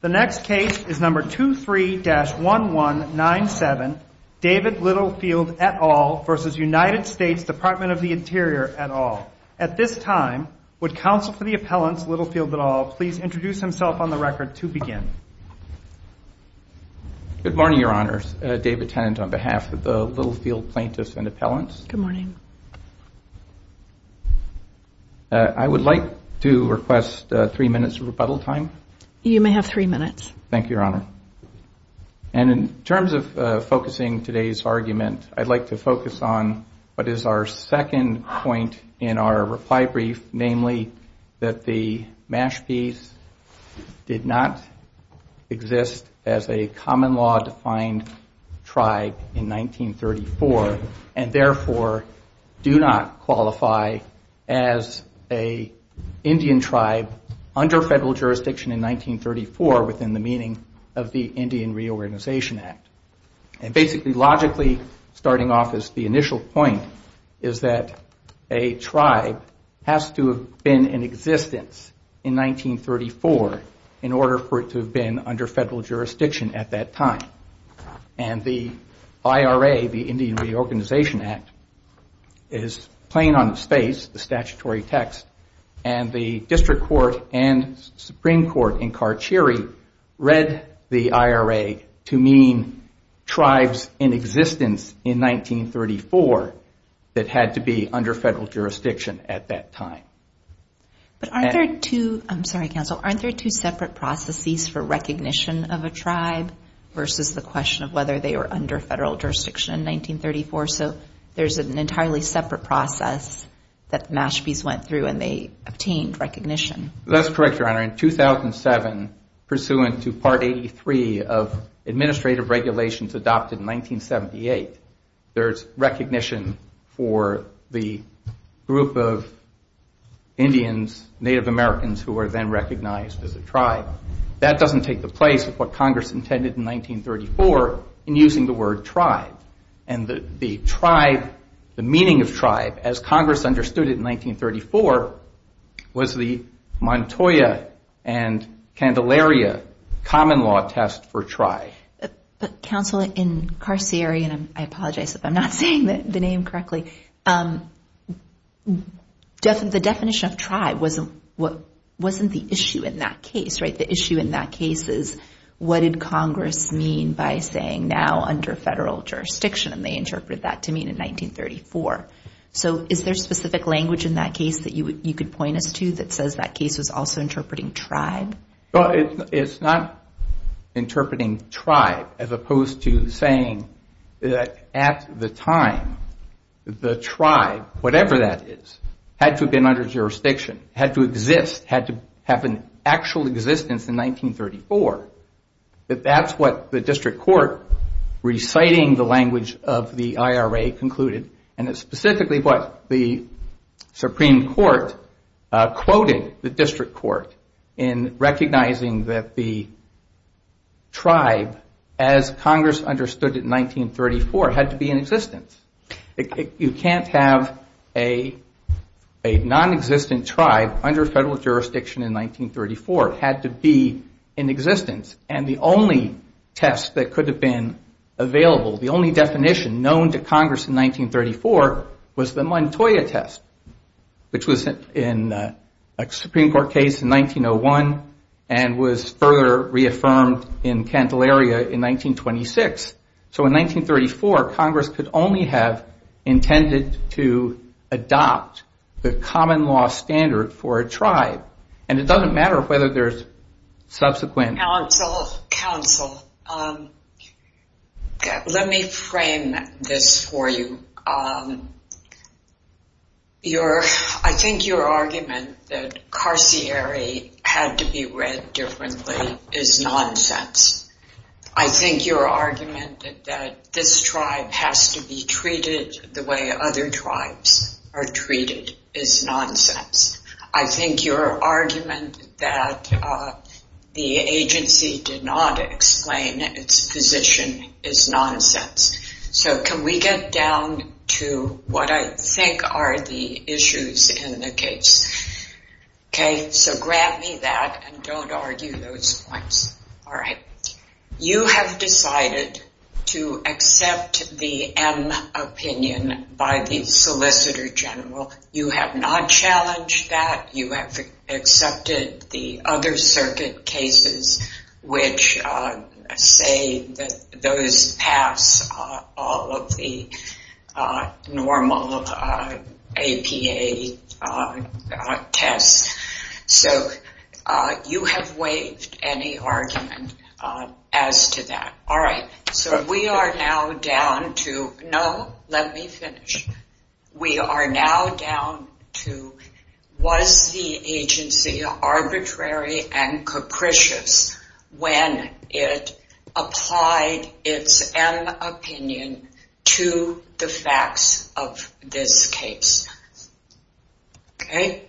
The next case is number 23-1197, David Littlefield et al. versus United States Dept of the Interior et al. At this time, would counsel for the appellants, Littlefield et al., please introduce himself on the record to begin. Good morning, your honors. David Tennant on behalf of the Littlefield plaintiffs and appellants. Good morning. I would like to request three minutes of rebuttal time. You may have three minutes. Thank you, your honor. And in terms of focusing today's argument, I'd like to focus on what is our second point in our reply brief, namely that the Mashpeys did not exist as a common law defined tribe in 1934 and therefore do not exist under federal jurisdiction in 1934 within the meaning of the Indian Reorganization Act. And basically, logically, starting off as the initial point is that a tribe has to have been in existence in 1934 in order for it to have been under federal jurisdiction at that time. And the IRA, the Indian Reorganization Act, is plain on its face, the Supreme Court in Carcheri read the IRA to mean tribes in existence in 1934 that had to be under federal jurisdiction at that time. But aren't there two, I'm sorry, counsel, aren't there two separate processes for recognition of a tribe versus the question of whether they were under federal jurisdiction in 1934? So there's an entirely separate process that Mashpeys went through and they obtained recognition. That's correct, your honor. In 2007, pursuant to Part 83 of administrative regulations adopted in 1978, there's recognition for the group of Indians, Native Americans who were then recognized as a tribe. That doesn't take the place of what Congress intended in 1934 in using the word tribe and the tribe, the meaning of tribe as Congress understood it in 1934, was the Montoya and Candelaria common law test for tribe. Counsel, in Carcheri, and I apologize if I'm not saying the name correctly, the definition of tribe wasn't the issue in that case, right? The issue in that case is what did Congress mean by saying now under federal jurisdiction and they interpreted that to mean in 1934. So is there specific language in that case that you could point us to that says that case was also interpreting tribe? Well, it's not interpreting tribe as opposed to saying that at the time, the tribe, whatever that is, had to have been under jurisdiction, had to exist, had to have an actual existence in 1934, that that's what the district court, reciting the language of the IRA concluded, and it's specifically what the Supreme Court quoted the district court in recognizing that the tribe, as Congress understood it in 1934, had to be in existence. You can't have a nonexistent tribe under federal jurisdiction in 1934. It had to be in existence. And the only test that could have been available, the only definition known to Congress in 1934 was the Montoya test, which was in a Supreme Court case in 1901 and was further reaffirmed in Cantalaria in 1926. So in 1934, Congress could only have intended to adopt the common law standard for a tribe, and it doesn't matter whether there's subsequent... Counsel, let me frame this for you. I think your argument that carcieri had to be read differently is nonsense. I think your argument that this tribe has to be treated the way other tribes are treated is nonsense. I think your argument that the agency did not explain its position is nonsense. So can we get down to what I think are the issues in the case? Okay, so grab me that and don't argue those points. All right. You have decided to accept the M opinion by the Solicitor General. You have not challenged that. You have accepted the other circuit cases which say that those pass all of the normal APA tests. So you have waived any argument as to that. All right. So we are now down to... No, let me finish. We are now down to was the agency arbitrary and capricious when it applied its M opinion to the facts of this case? Okay.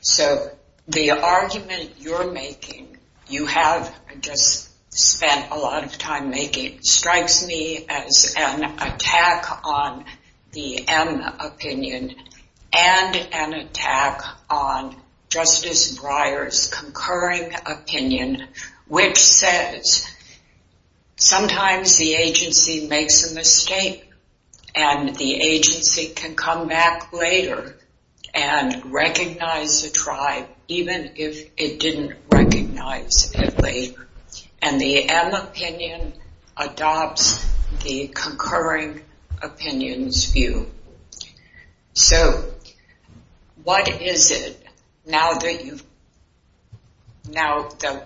So the argument you're making, you have just spent a lot of time making, strikes me as an attack on the M opinion and an attack on Justice Breyer's concurring opinion which says sometimes the agency makes a mistake and the tribe even if it didn't recognize it later and the M opinion adopts the concurring opinion's view. So what is it now that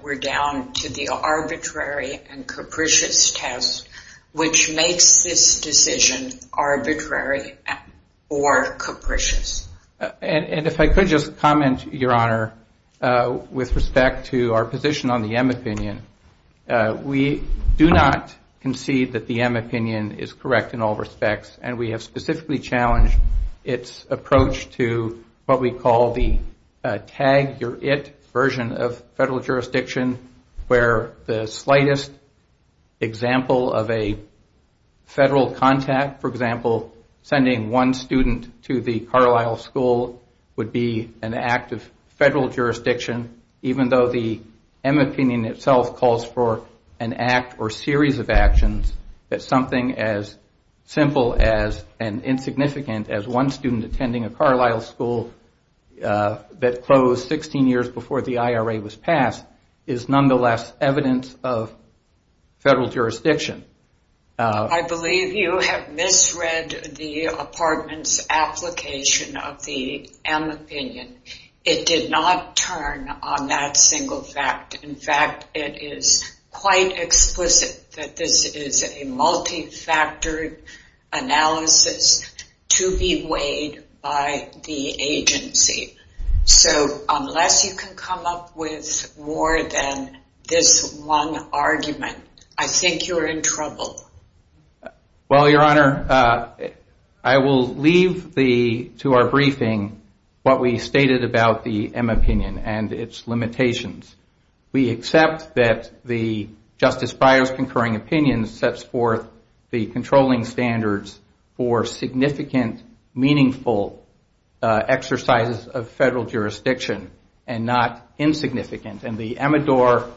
we're down to the arbitrary and capricious test which makes this decision arbitrary or capricious? And if I could just comment, Your Honor, with respect to our position on the M opinion. We do not concede that the M opinion is correct in all respects and we have specifically challenged its approach to what we call the tag your it version of federal jurisdiction where the slightest example of a federal contact, for example, would be an act of federal jurisdiction even though the M opinion itself calls for an act or series of actions that something as simple and insignificant as one student attending a Carlisle school that closed 16 years before the IRA was passed is nonetheless evidence of federal jurisdiction. I believe you have misread the apartment's application of the M opinion. It did not turn on that single fact. In fact, it is quite explicit that this is a multifactored analysis to be weighed by the agency. So unless you can come up with more than this one argument, I think you're in trouble. Well, Your Honor, I will leave to our briefing what we stated about the M opinion and its limitations. We accept that the Justice Breyer's concurring opinion sets forth the controlling standards for significant, meaningful exercises of federal jurisdiction and not insignificant. The Amador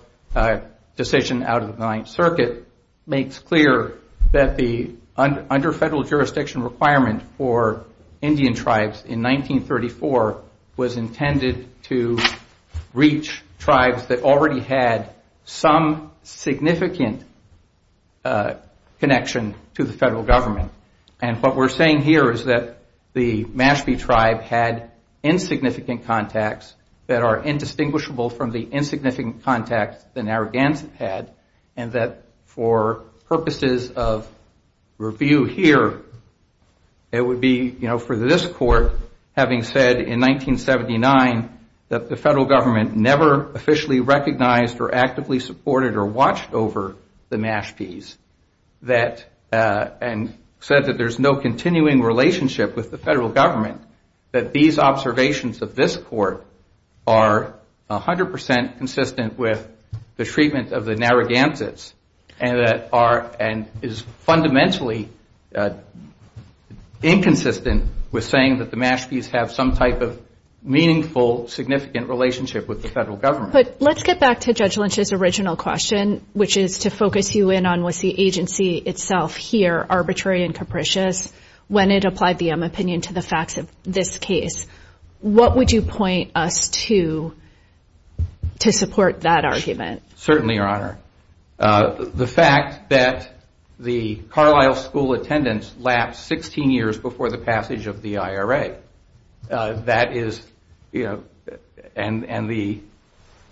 decision out of the Ninth Circuit makes clear that the under federal jurisdiction requirement for Indian tribes in 1934 was intended to reach tribes that already had some significant connection to the federal government. And what we're saying here is that the Mashpee tribe had insignificant contacts that are indistinguishable from the insignificant contacts the Narragansett had, and that for purposes of review here, it would be for this court, having said in 1979 that the federal government never officially recognized or actively supported or watched over the Mashpees, and said that there's no continuing relationship with the federal government, that these are 100 percent consistent with the treatment of the Narragansetts and is fundamentally inconsistent with saying that the Mashpees have some type of meaningful, significant relationship with the federal government. But let's get back to Judge Lynch's original question, which is to focus you in on was the agency itself here arbitrary and capricious when it applied the M opinion to the facts of this case? What would you point us to to support that argument? Certainly, Your Honor. The fact that the Carlisle school attendance lapsed 16 years before the passage of the IRA, that is, you know, and the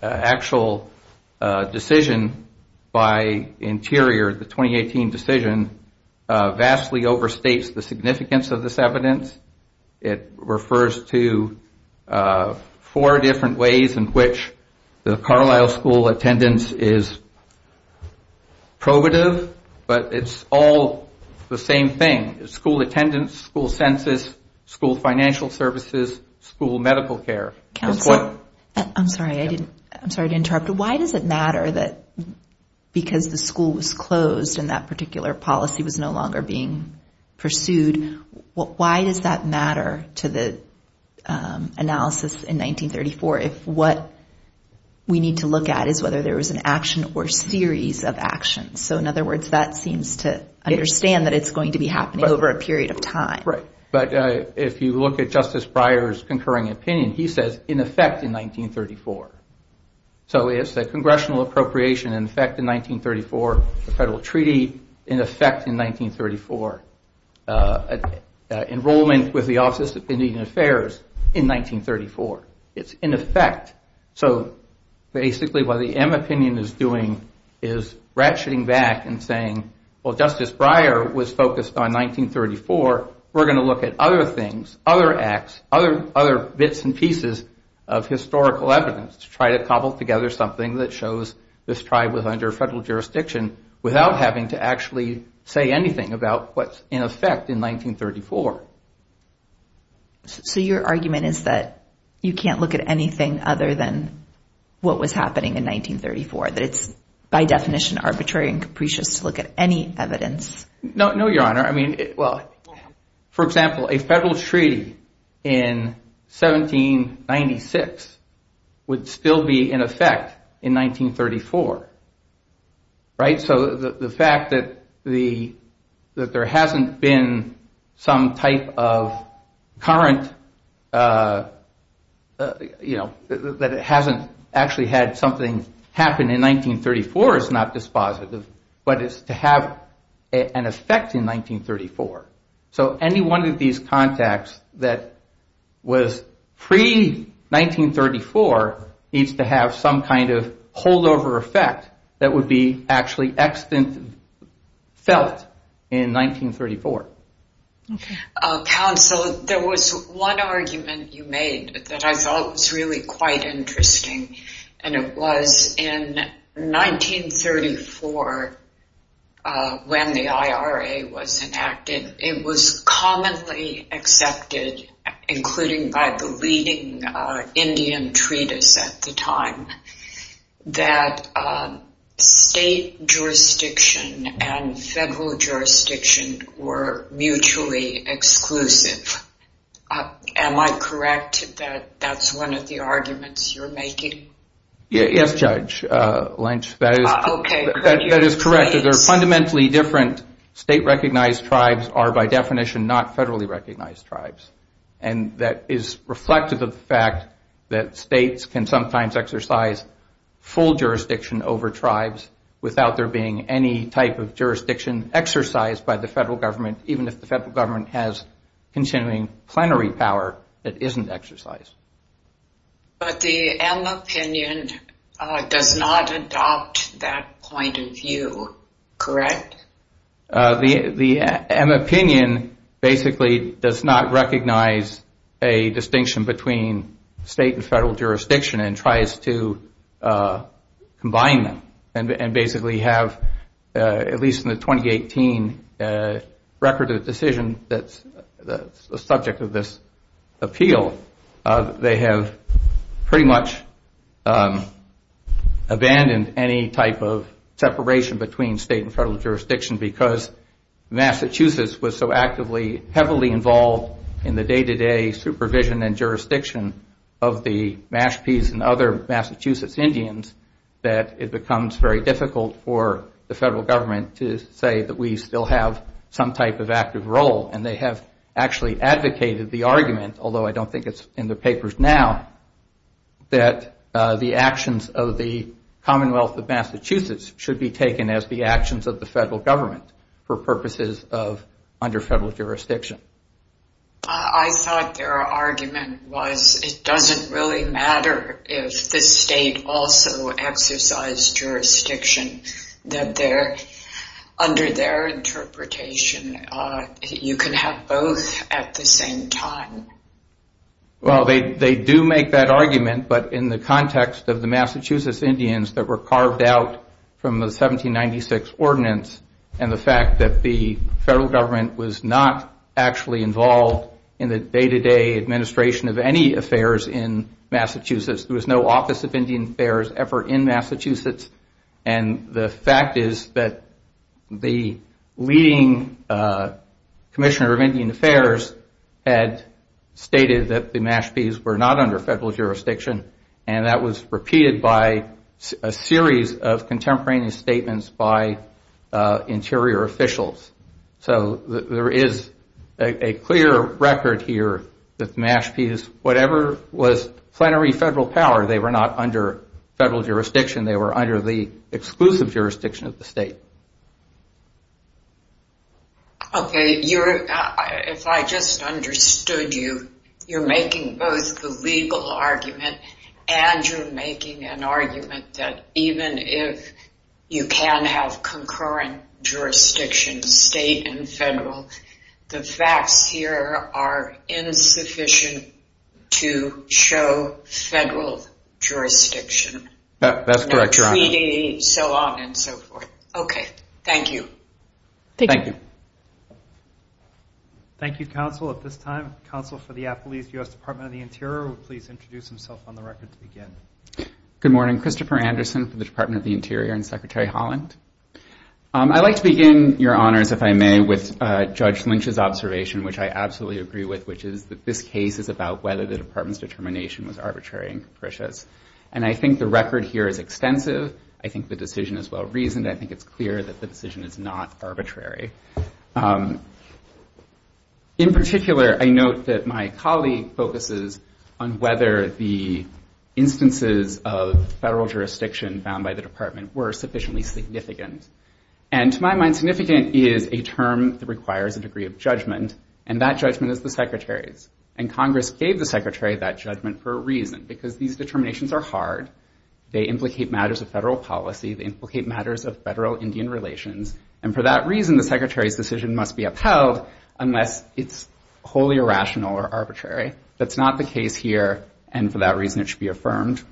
actual decision by Interior, the 2018 decision, vastly overstates the significance of this evidence. It refers to four different ways in which the Carlisle school attendance is probative, but it's all the same thing. School attendance, school census, school financial services, school medical care. Counsel, I'm sorry, I didn't, I'm sorry to interrupt. Why does it matter that because the school was closed and that particular policy was no longer being pursued, why does that matter to the analysis in 1934 if what we need to look at is whether there was an action or series of actions? So in other words, that seems to understand that it's going to be happening over a period of time. Right. But if you look at Justice Breyer's concurring opinion, he says in effect in 1934. So it's the congressional appropriation in effect in 1934, the federal treaty in effect in 1934. Enrollment with the Office of Civil and Indian Affairs in 1934. It's in effect. So basically what the M opinion is doing is ratcheting back and saying, well, Justice Breyer was focused on 1934. We're going to look at other things, other acts, other bits and pieces of historical evidence to try to cobble together something that shows this tribe was under federal jurisdiction without having to actually say anything about what's in effect in 1934. So your argument is that you can't look at anything other than what was happening in 1934, that it's by definition arbitrary and capricious to look at any evidence? No, Your Honor. I mean, well, for example, a federal treaty in 1796 would still be in effect in 1934, right? So the fact that there hasn't been some type of current, you know, that it hasn't actually had something happen in 1934 is not dispositive, but it's to have an effect in 1934. So any one of these contacts that was pre-1934 needs to have some kind of holdover effect that would be actually felt in 1934. Counsel, there was one argument you made that I thought was really quite It was commonly accepted, including by the leading Indian treatise at the time, that state jurisdiction and federal jurisdiction were mutually exclusive. Am I correct that that's one of the arguments you're making? Yes, Judge Lynch, that is correct. The fundamentally different state-recognized tribes are, by definition, not federally-recognized tribes, and that is reflective of the fact that states can sometimes exercise full jurisdiction over tribes without there being any type of jurisdiction exercised by the federal government, even if the federal government has continuing plenary power that isn't exercised. But the M opinion does not adopt that point of view, correct? The M opinion basically does not recognize a distinction between state and federal jurisdiction and tries to combine them and basically have, at record of the decision that's the subject of this appeal, they have pretty much abandoned any type of separation between state and federal jurisdiction because Massachusetts was so actively, heavily involved in the day-to-day supervision and jurisdiction of the Mashpees and other Massachusetts Indians that it becomes very difficult for the federal government to say that we still have some type of active role. And they have actually advocated the argument, although I don't think it's in the papers now, that the actions of the Commonwealth of Massachusetts should be taken as the actions of the federal government for purposes of under federal jurisdiction. I thought their argument was it doesn't really matter if the state also exercised jurisdiction. Under their interpretation, you can have both at the same time. Well, they do make that argument, but in the context of the Massachusetts Indians that were carved out from the 1796 ordinance and the fact that the federal government was not actually involved in the day-to-day administration of any affairs in Massachusetts. There was no Office of Indian Affairs ever in Massachusetts. And the fact is that the leading commissioner of Indian Affairs had stated that the Mashpees were not under federal jurisdiction. And that was repeated by a series of contemporaneous statements by interior officials. So there is a clear record here that the Mashpees, whatever was plenary federal power, they were not under federal jurisdiction. They were under the exclusive jurisdiction of the state. OK, if I just understood you, you're making both the legal argument and you're making an argument that even if you can have concurrent jurisdiction, state and federal, the facts here are insufficient to show federal jurisdiction. That's correct, Your Honor. So on and so forth. OK, thank you. Thank you. Thank you, counsel. At this time, counsel for the Appalachian U.S. Department of the Interior will please introduce himself on the record to begin. Good morning. Christopher Anderson from the Department of the Interior and Secretary Holland. I'd like to begin, Your Honors, if I may, with Judge Lynch's observation, which I absolutely agree with, which is that this case is about whether the department's determination was arbitrary and capricious. And I think the record here is extensive. I think the decision is well-reasoned. I think it's clear that the decision is not arbitrary. In particular, I note that my colleague focuses on whether the instances of determination by the department were sufficiently significant. And to my mind, significant is a term that requires a degree of judgment. And that judgment is the Secretary's. And Congress gave the Secretary that judgment for a reason, because these determinations are hard. They implicate matters of federal policy. They implicate matters of federal Indian relations. And for that reason, the Secretary's decision must be upheld unless it's wholly irrational or arbitrary. That's not the case here. And for that reason, it should be affirmed.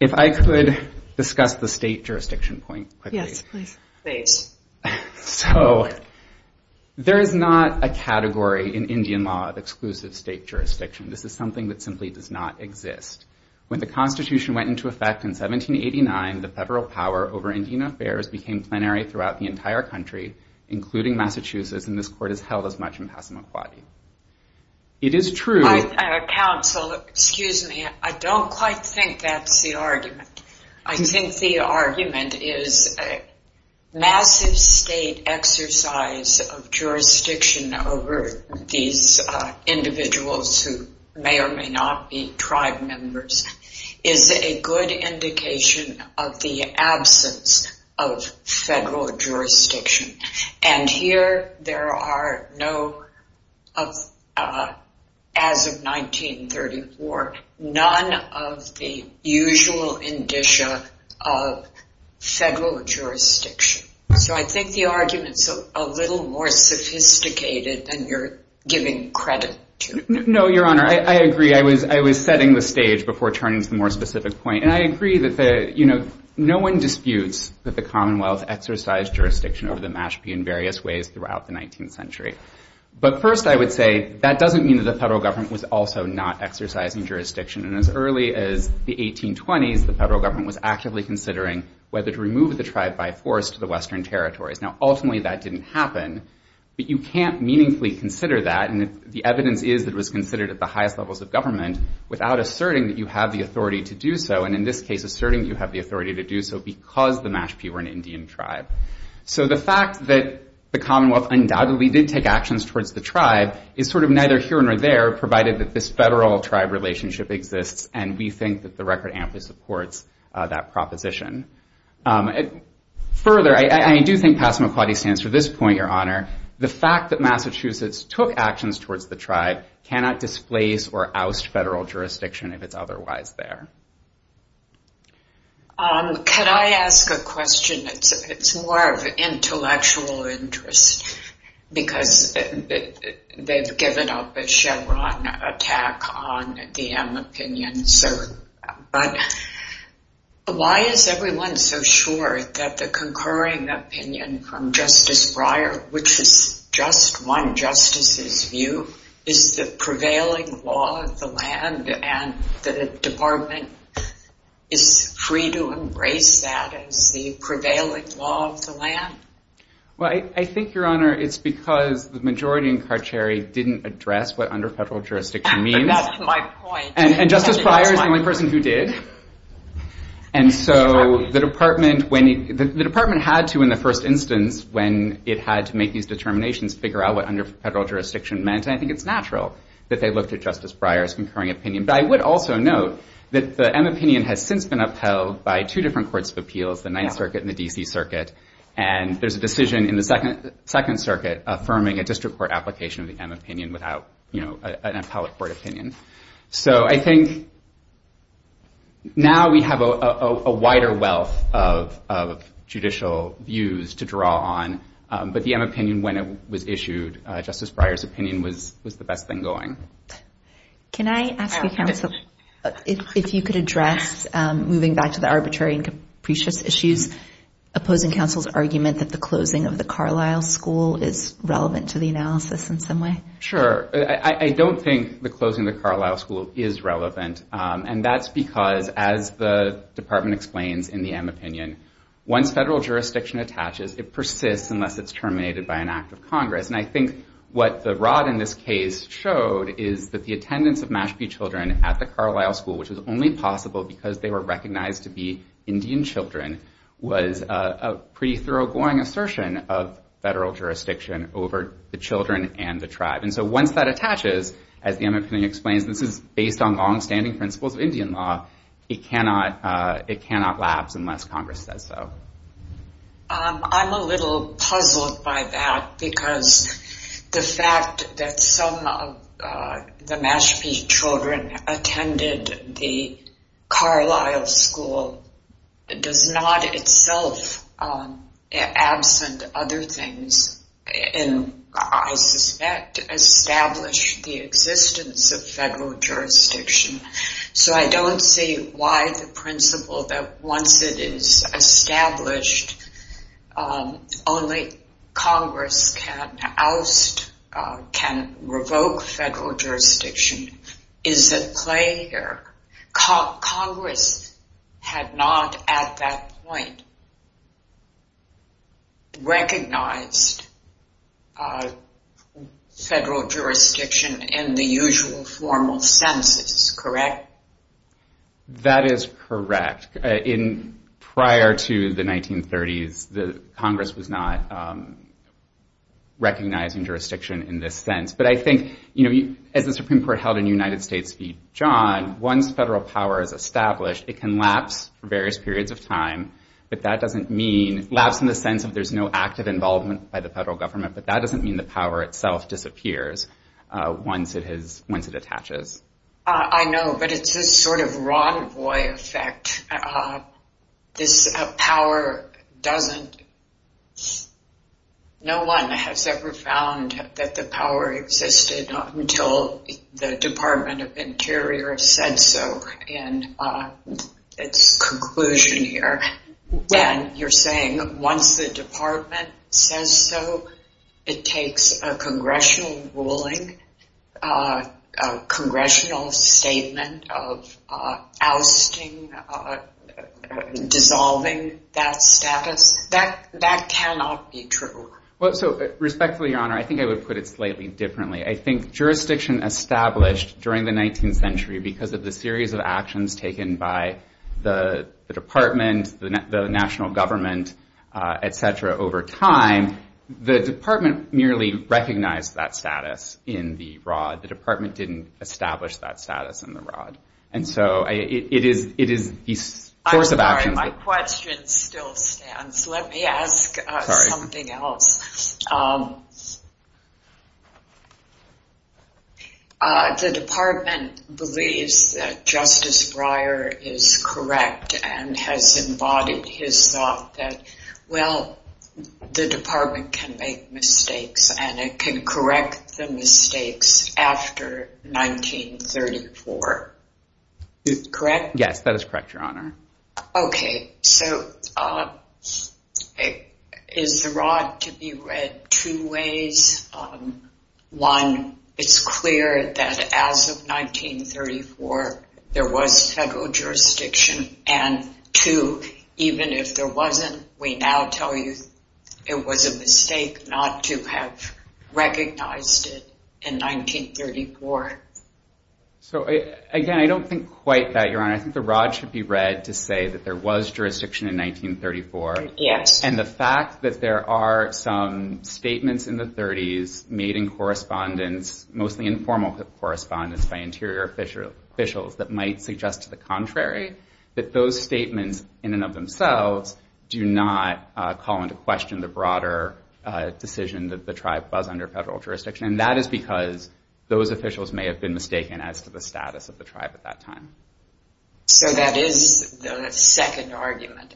If I could discuss the state jurisdiction point quickly. Yes, please. Please. So there is not a category in Indian law of exclusive state jurisdiction. This is something that simply does not exist. When the Constitution went into effect in 1789, the federal power over Indian affairs became plenary throughout the entire country, including Massachusetts. And this court has held as much in Passamaquoddy. It is true. Counsel, excuse me. I don't quite think that's the argument. I think the argument is a massive state exercise of jurisdiction over these individuals who may or may not be tribe members is a good indication of the absence of federal jurisdiction. And here, there are no, as of 1934, none of the usual indicia of federal jurisdiction. So I think the argument's a little more sophisticated than you're giving credit to. No, Your Honor. I agree. I was setting the stage before turning to the more specific point. And I agree that no one disputes that the Commonwealth exercised jurisdiction over the Mashpee in various ways throughout the 19th century. But first, I would say that doesn't mean that the federal government was also not exercising jurisdiction. And as early as the 1820s, the federal government was actively considering whether to remove the tribe by force to the Western territories. Now, ultimately, that didn't happen. But you can't meaningfully consider that. And the evidence is that it was considered at the highest levels of government without asserting that you have the authority to do so. And in this case, asserting you have the authority to do so because the Mashpee were an Indian tribe. So the fact that the Commonwealth undoubtedly did take actions towards the tribe is sort of neither here nor there, provided that this federal tribe relationship exists. And we think that the record amply supports that proposition. Further, I do think Passamaquoddy stands for this point, Your Honor. The fact that Massachusetts took actions towards the tribe cannot displace or oust federal jurisdiction if it's otherwise there. Could I ask a question? It's more of an intellectual interest because they've given up a Chevron attack on the M opinion. But why is everyone so sure that the concurring opinion from Justice Breyer, which is just one justice's view, is the prevailing law of the land and the prevailing law of the land? Well, I think, Your Honor, it's because the majority in Carchary didn't address what underfederal jurisdiction means. But that's my point. And Justice Breyer is the only person who did. And so the department had to in the first instance when it had to make these determinations figure out what underfederal jurisdiction meant. And I think it's natural that they looked at Justice Breyer's concurring opinion. But I would also note that the M opinion has since been upheld by two different courts of appeals, the Ninth Circuit and the D.C. Circuit. And there's a decision in the Second Circuit affirming a district court application of the M opinion without an appellate court opinion. So I think now we have a wider wealth of judicial views to draw on. But the M opinion, when it was issued, Justice Breyer's opinion was the best thing going. Can I ask you, counsel, if you could address moving back to the arbitrary and capricious issues, opposing counsel's argument that the closing of the Carlisle School is relevant to the analysis in some way? Sure. I don't think the closing of the Carlisle School is relevant. And that's because, as the department explains in the M opinion, once federal jurisdiction attaches, it persists unless it's terminated by an act of Congress. And I think what the rod in this case showed is that the attendance of Mashpee children at the Carlisle School, which is only possible because they were recognized to be Indian children, was a pretty thoroughgoing assertion of federal jurisdiction over the children and the tribe. And so once that attaches, as the M opinion explains, this is based on longstanding principles of Indian law, it cannot lapse unless Congress says so. I'm a little puzzled by that because the fact that some of the Mashpee children attended the Carlisle School does not itself absent other things and, I suspect, establish the existence of federal jurisdiction. So I don't see why the principle that once it is established, only Congress can oust, can revoke federal jurisdiction is at play here. Congress had not at that point recognized federal jurisdiction in the usual formal senses, correct? That is correct. Prior to the 1930s, Congress was not recognizing jurisdiction in this sense. But I think, as the Supreme Court held in United States v. John, once federal power is established, it can lapse for various periods of time. But that doesn't mean, lapse in the sense of there's no active involvement by the federal government, but that doesn't mean the power itself disappears once it attaches. I know, but it's this sort of Ron Boy effect. No one has ever found that the power existed until the Department of Interior said so in its conclusion here. When you're saying, once the department says so, it takes a congressional ruling, a congressional statement of ousting, dissolving that status. That cannot be true. Well, so respectfully, Your Honor, I think I would put it slightly differently. I think jurisdiction established during the 19th century because of the series of actions taken by the department, the national government, et cetera, over time. The department merely recognized that status in the rod. The department didn't establish that status in the rod. And so, it is this course of action. I'm sorry, my question still stands. Let me ask something else. The department believes that Justice Breyer is correct and has embodied his thought that, well, the department can make mistakes, and it can correct the mistakes after 1934. Correct? Yes, that is correct, Your Honor. Okay, so is the rod to be read two ways? One, it's clear that as of 1934, there was federal jurisdiction. And two, even if there wasn't, we now tell you it was a mistake not to have recognized it in 1934. So, again, I don't think quite that, Your Honor. I think the rod should be read to say that there was jurisdiction in 1934. Yes. And the fact that there are some statements in the 30s made in correspondence, mostly informal correspondence by interior officials that might suggest to the contrary that those statements in and of themselves do not call into question the broader decision that the tribe was under federal jurisdiction. And that is because those officials may have been mistaken as to the status of the tribe at that time. So that is the second argument.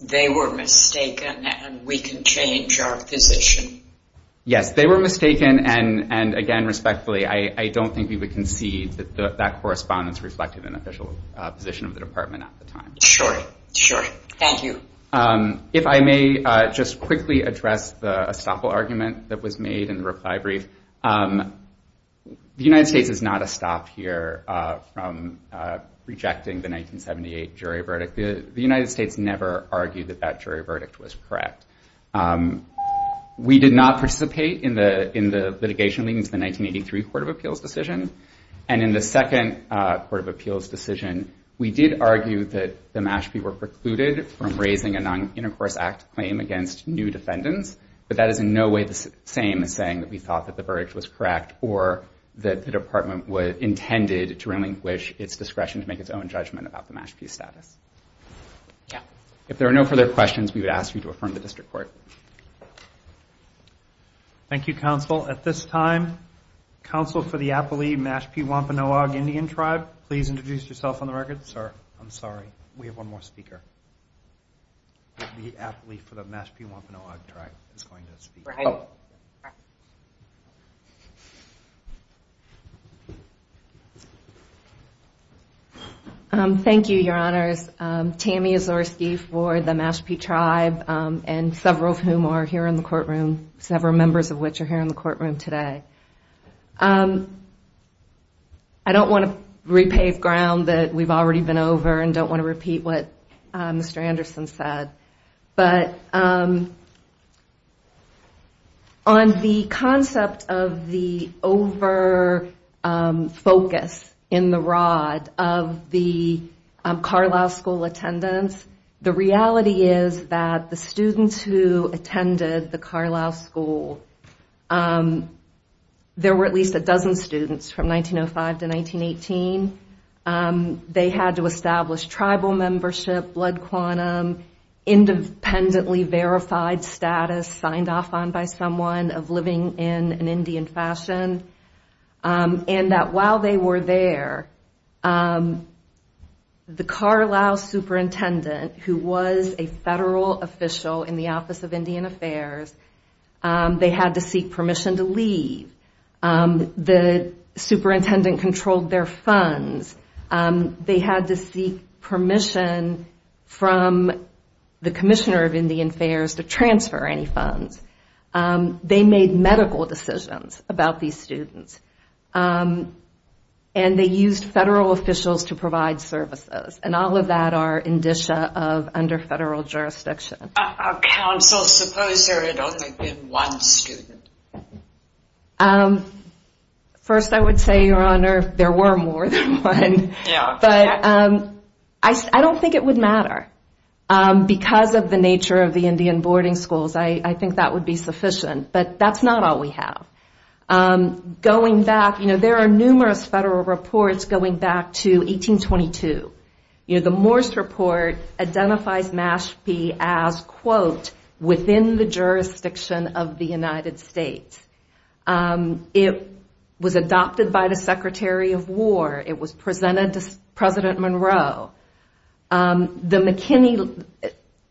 They were mistaken, and we can change our position. Yes, they were mistaken. And, again, respectfully, I don't think we would concede that that correspondence reflected an official position of the department at the time. Sure, sure. Thank you. If I may just quickly address the estoppel argument that was made in the reply brief. The United States is not estopped here from rejecting the 1978 jury verdict. The United States never argued that that jury verdict was correct. We did not participate in the litigation leading to the 1983 Court of Appeals decision. And in the second Court of Appeals decision, we did argue that the Mashpee were precluded from raising a Non-Intercourse Act claim against new defendants. But that is in no way the same as saying that we thought that the verdict was correct or that the department intended to relinquish its discretion to make its own judgment about the Mashpee status. Yeah. If there are no further questions, we would ask you to affirm the district court. Thank you, counsel. At this time, counsel for the Appali Mashpee Wampanoag Indian Tribe, please introduce yourself on the record. Sir, I'm sorry. We have one more speaker. The Appali for the Mashpee Wampanoag Tribe. All right. Thank you, your honors. Tammy Azorski for the Mashpee Tribe, and several of whom are here in the courtroom, several members of which are here in the courtroom today. I don't want to repave ground that we've already been over and don't want to repeat what Mr. Anderson said. But on the concept of the over focus in the rod of the Carlisle school attendance, the reality is that the students who attended the Carlisle school, there were at least a dozen students from 1905 to 1918. And they had to establish tribal membership, blood quantum, independently verified status, signed off on by someone of living in an Indian fashion. And that while they were there, the Carlisle superintendent, who was a federal official in the Office of Indian Affairs, they had to seek permission to leave. The superintendent controlled their funds. They had to seek permission from the Commissioner of Indian Affairs to transfer any funds. They made medical decisions about these students. And they used federal officials to provide services. And all of that are indicia of under federal jurisdiction. Counsel, suppose there had only been one student. First, I would say, Your Honor, there were more than one. But I don't think it would matter. Because of the nature of the Indian boarding schools, I think that would be sufficient. But that's not all we have. Going back, there are numerous federal reports going back to 1822. The Morse Report identifies Mashpee as, quote, within the jurisdiction of the United States. It was adopted by the Secretary of War. It was presented to President Monroe. The McKinney,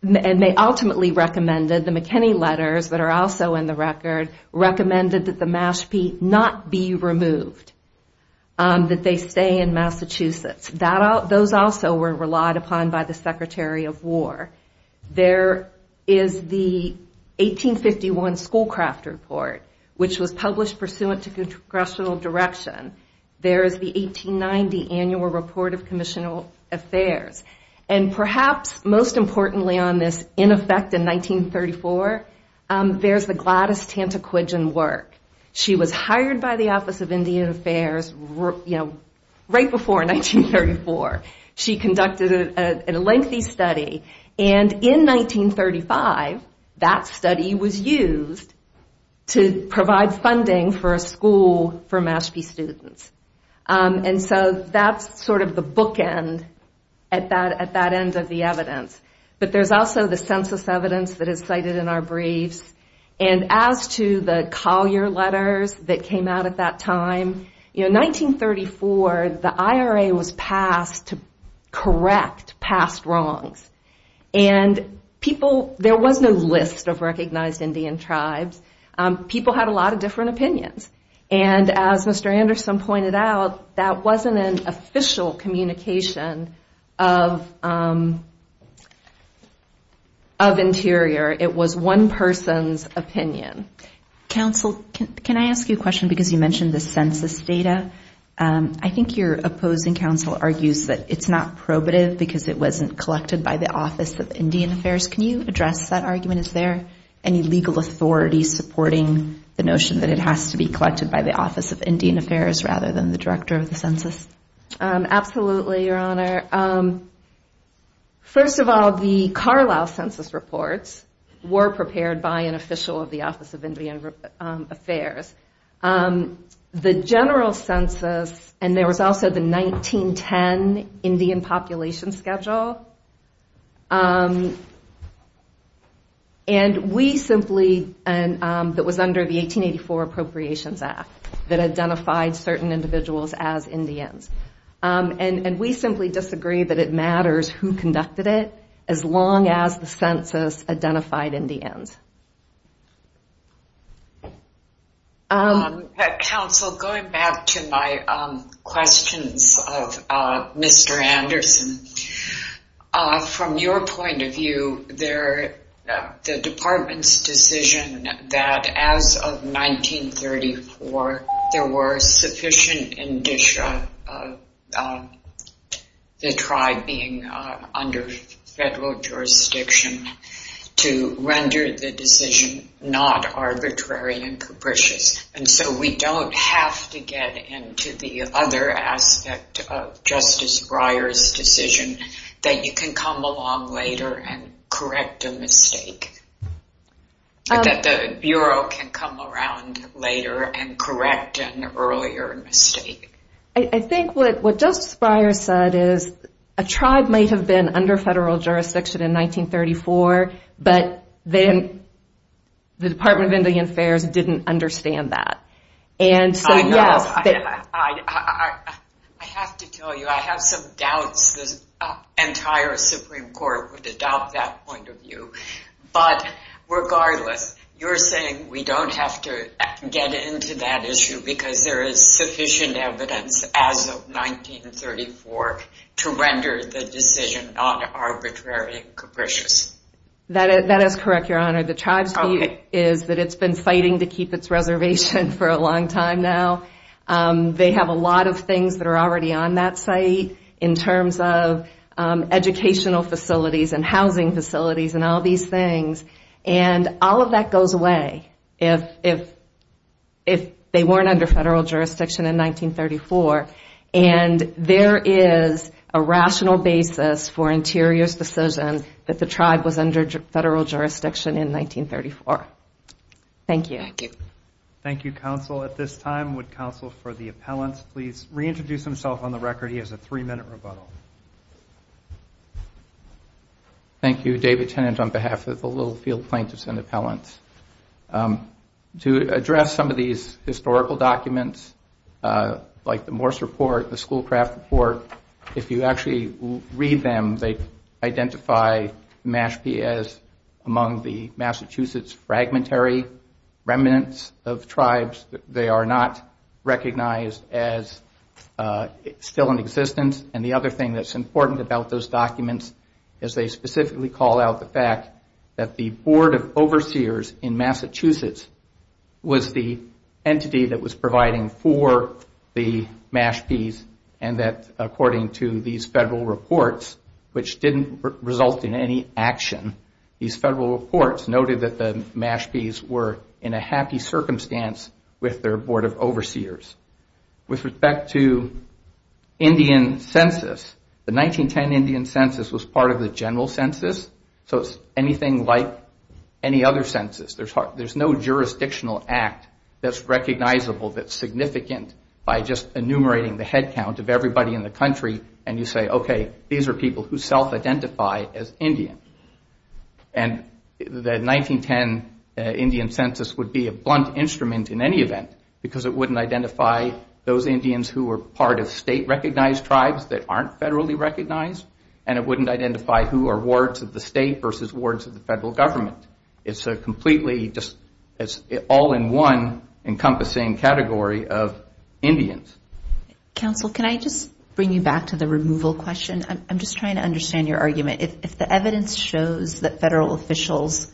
and they ultimately recommended, the McKinney letters that are also in the record, recommended that the Mashpee not be removed. That they stay in Massachusetts. Those also were relied upon by the Secretary of War. There is the 1851 Schoolcraft Report, which was published pursuant to congressional direction. There is the 1890 Annual Report of Commissioner Affairs. And perhaps most importantly on this, in effect in 1934, there's the Gladys Tantacwidgen work. She was hired by the Office of Indian Affairs, you know, right before 1934. She conducted a lengthy study. And in 1935, that study was used to provide funding for a school for Mashpee students. And so that's sort of the bookend at that end of the evidence. But there's also the census evidence that is cited in our briefs. And as to the Collier letters that came out at that time, you know, 1934, the IRA was passed to correct past wrongs. And people, there was no list of recognized Indian tribes. People had a lot of different opinions. And as Mr. Anderson pointed out, that wasn't an official communication of interior. It was one person's opinion. Counsel, can I ask you a question? Because you mentioned the census data. I think your opposing counsel argues that it's not probative because it wasn't collected by the Office of Indian Affairs. Can you address that argument? Is there any legal authority supporting the notion that it has to be collected by the Office of Indian Affairs rather than the Director of the Census? Absolutely, Your Honor. First of all, the Carlisle census reports were prepared by an official of the Office of Indian Affairs. The general census, and there was also the 1910 Indian population schedule. And we simply, and that was under the 1884 Appropriations Act that identified certain individuals as Indians. And we simply disagree that it matters who conducted it as long as the census identified Indians. Counsel, going back to my questions of Mr. Anderson, from your point of view, the department's decision that as of 1934, there were sufficient indicia that tried being under federal jurisdiction to render the decision not arbitrary and capricious. And so we don't have to get into the other aspect of Justice Breyer's decision that you can come along later and correct a mistake. But that the Bureau can come around later and correct an earlier mistake. I think what Justice Breyer said is a tribe might have been under federal jurisdiction in 1934, but then the Department of Indian Affairs didn't understand that. And so, yes, I have to tell you, I have some doubts the entire Supreme Court would adopt that point of view. But regardless, you're saying we don't have to get into that issue because there is sufficient evidence as of 1934 to render the decision not arbitrary and capricious. That is correct, Your Honor. The tribe's view is that it's been fighting to keep its reservation for a long time now. They have a lot of things that are already on that site in terms of educational facilities and housing facilities and all these things. And all of that goes away if they weren't under federal jurisdiction in 1934. And there is a rational basis for Interior's decision that the tribe was under federal jurisdiction in 1934. Thank you. Thank you, counsel. At this time, would counsel for the appellant please reintroduce himself on the record? He has a three-minute rebuttal. Thank you, David Tennant, on behalf of the Littlefield Plaintiffs and Appellants. To address some of these historical documents like the Morse Report, the Schoolcraft Report, if you actually read them, they identify Mashpee as among the Massachusetts fragmentary remnants of tribes. And the other thing that's so important about those documents is they specifically call out the fact that the Board of Overseers in Massachusetts was the entity that was providing for the Mashpees and that according to these federal reports, which didn't result in any action, these federal reports noted that the Mashpees were in a happy circumstance with their Board of Overseers. With respect to Indian Census, the 1910 Indian Census was part of the general census. So it's anything like any other census. There's no jurisdictional act that's recognizable, that's significant by just enumerating the headcount of everybody in the country and you say, okay, these are people who self-identify as Indian. And the 1910 Indian Census would be a blunt instrument in any event because it wouldn't identify those Indians who were part of state-recognized tribes that aren't federally recognized and it wouldn't identify who are wards of the state versus wards of the federal government. It's a completely just all-in-one encompassing category of Indians. Counsel, can I just bring you back to the removal question? I'm just trying to understand your argument. If the evidence shows that federal officials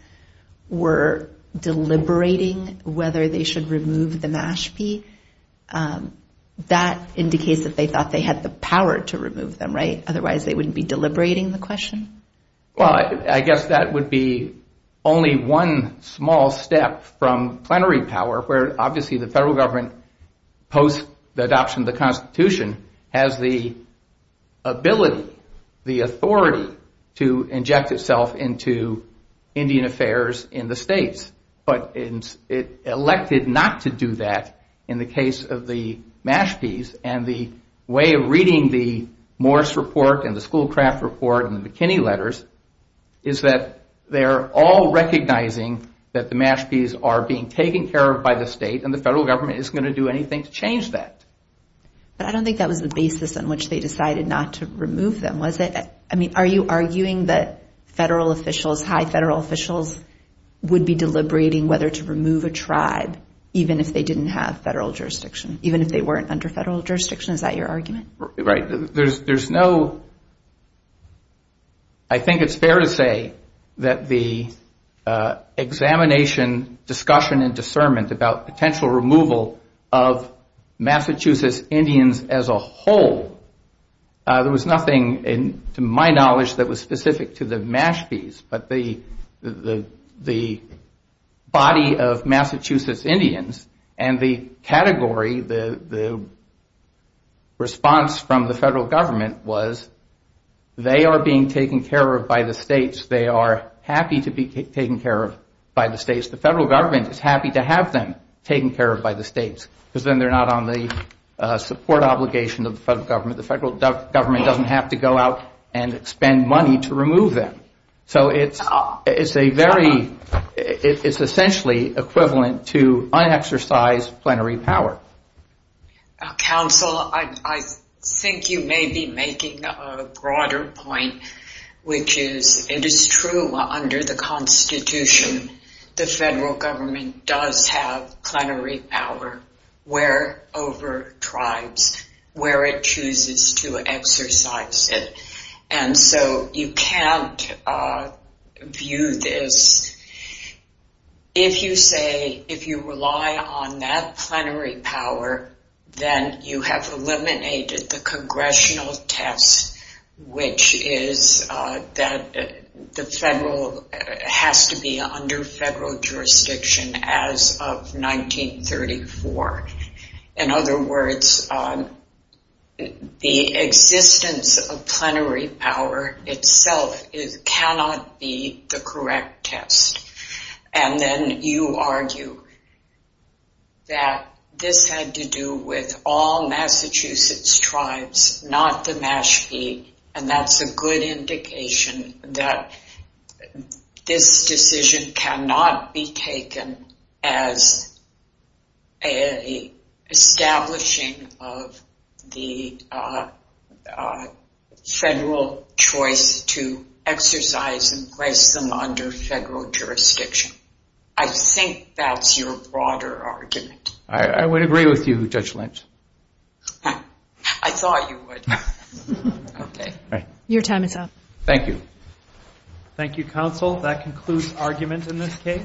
were deliberating whether they should remove the Mashpee, that indicates that they thought they had the power to remove them, right? Otherwise they wouldn't be deliberating the question? Well, I guess that would be only one small step from plenary power where obviously the federal government post the adoption of the Constitution has the ability, the authority to inject itself into Indian affairs in the states. But it elected not to do that in the case of the Mashpees and the way of reading the Morse Report and the Schoolcraft Report and the McKinney Letters is that they're all recognizing that the Mashpees are being taken care of by the state and the federal government isn't going to do anything to change that. But I don't think that was the basis on which they decided not to remove them, was it? I mean, are you arguing that federal officials, high federal officials, would be deliberating whether to remove a tribe even if they didn't have federal jurisdiction, even if they weren't under federal jurisdiction? Is that your argument? Right, there's no... I think it's fair to say that the examination, discussion, and discernment about potential removal of Massachusetts Indians as a whole, there was nothing, to my knowledge, that was specific to the Mashpees, but the body of Massachusetts Indians and the category, the response from the federal government was they are being taken care of by the states. They are happy to be taken care of by the states. The federal government is happy to have them taken care of by the states because then they're not on the support obligation of the federal government. The federal government doesn't have to go out and spend money to remove them. So it's a very... to unexercise plenary power. Counsel, I think you may be making a broader point, which is it is true under the Constitution the federal government does have plenary power where over tribes, where it chooses to exercise it. And so you can't view this... If you say, if you rely on that plenary power, then you have eliminated the congressional test, which is that the federal... has to be under federal jurisdiction as of 1934. In other words, the existence of plenary power itself cannot be the correct test. And then you argue that this had to do with all Massachusetts tribes, not the Mashpee. And that's a good indication that this decision cannot be taken as a establishing of the federal choice to exercise and place them under federal jurisdiction. I think that's your broader argument. I would agree with you, Judge Lynch. I thought you would. Okay. Your time is up. Thank you. Thank you, Counsel. That concludes argument in this case.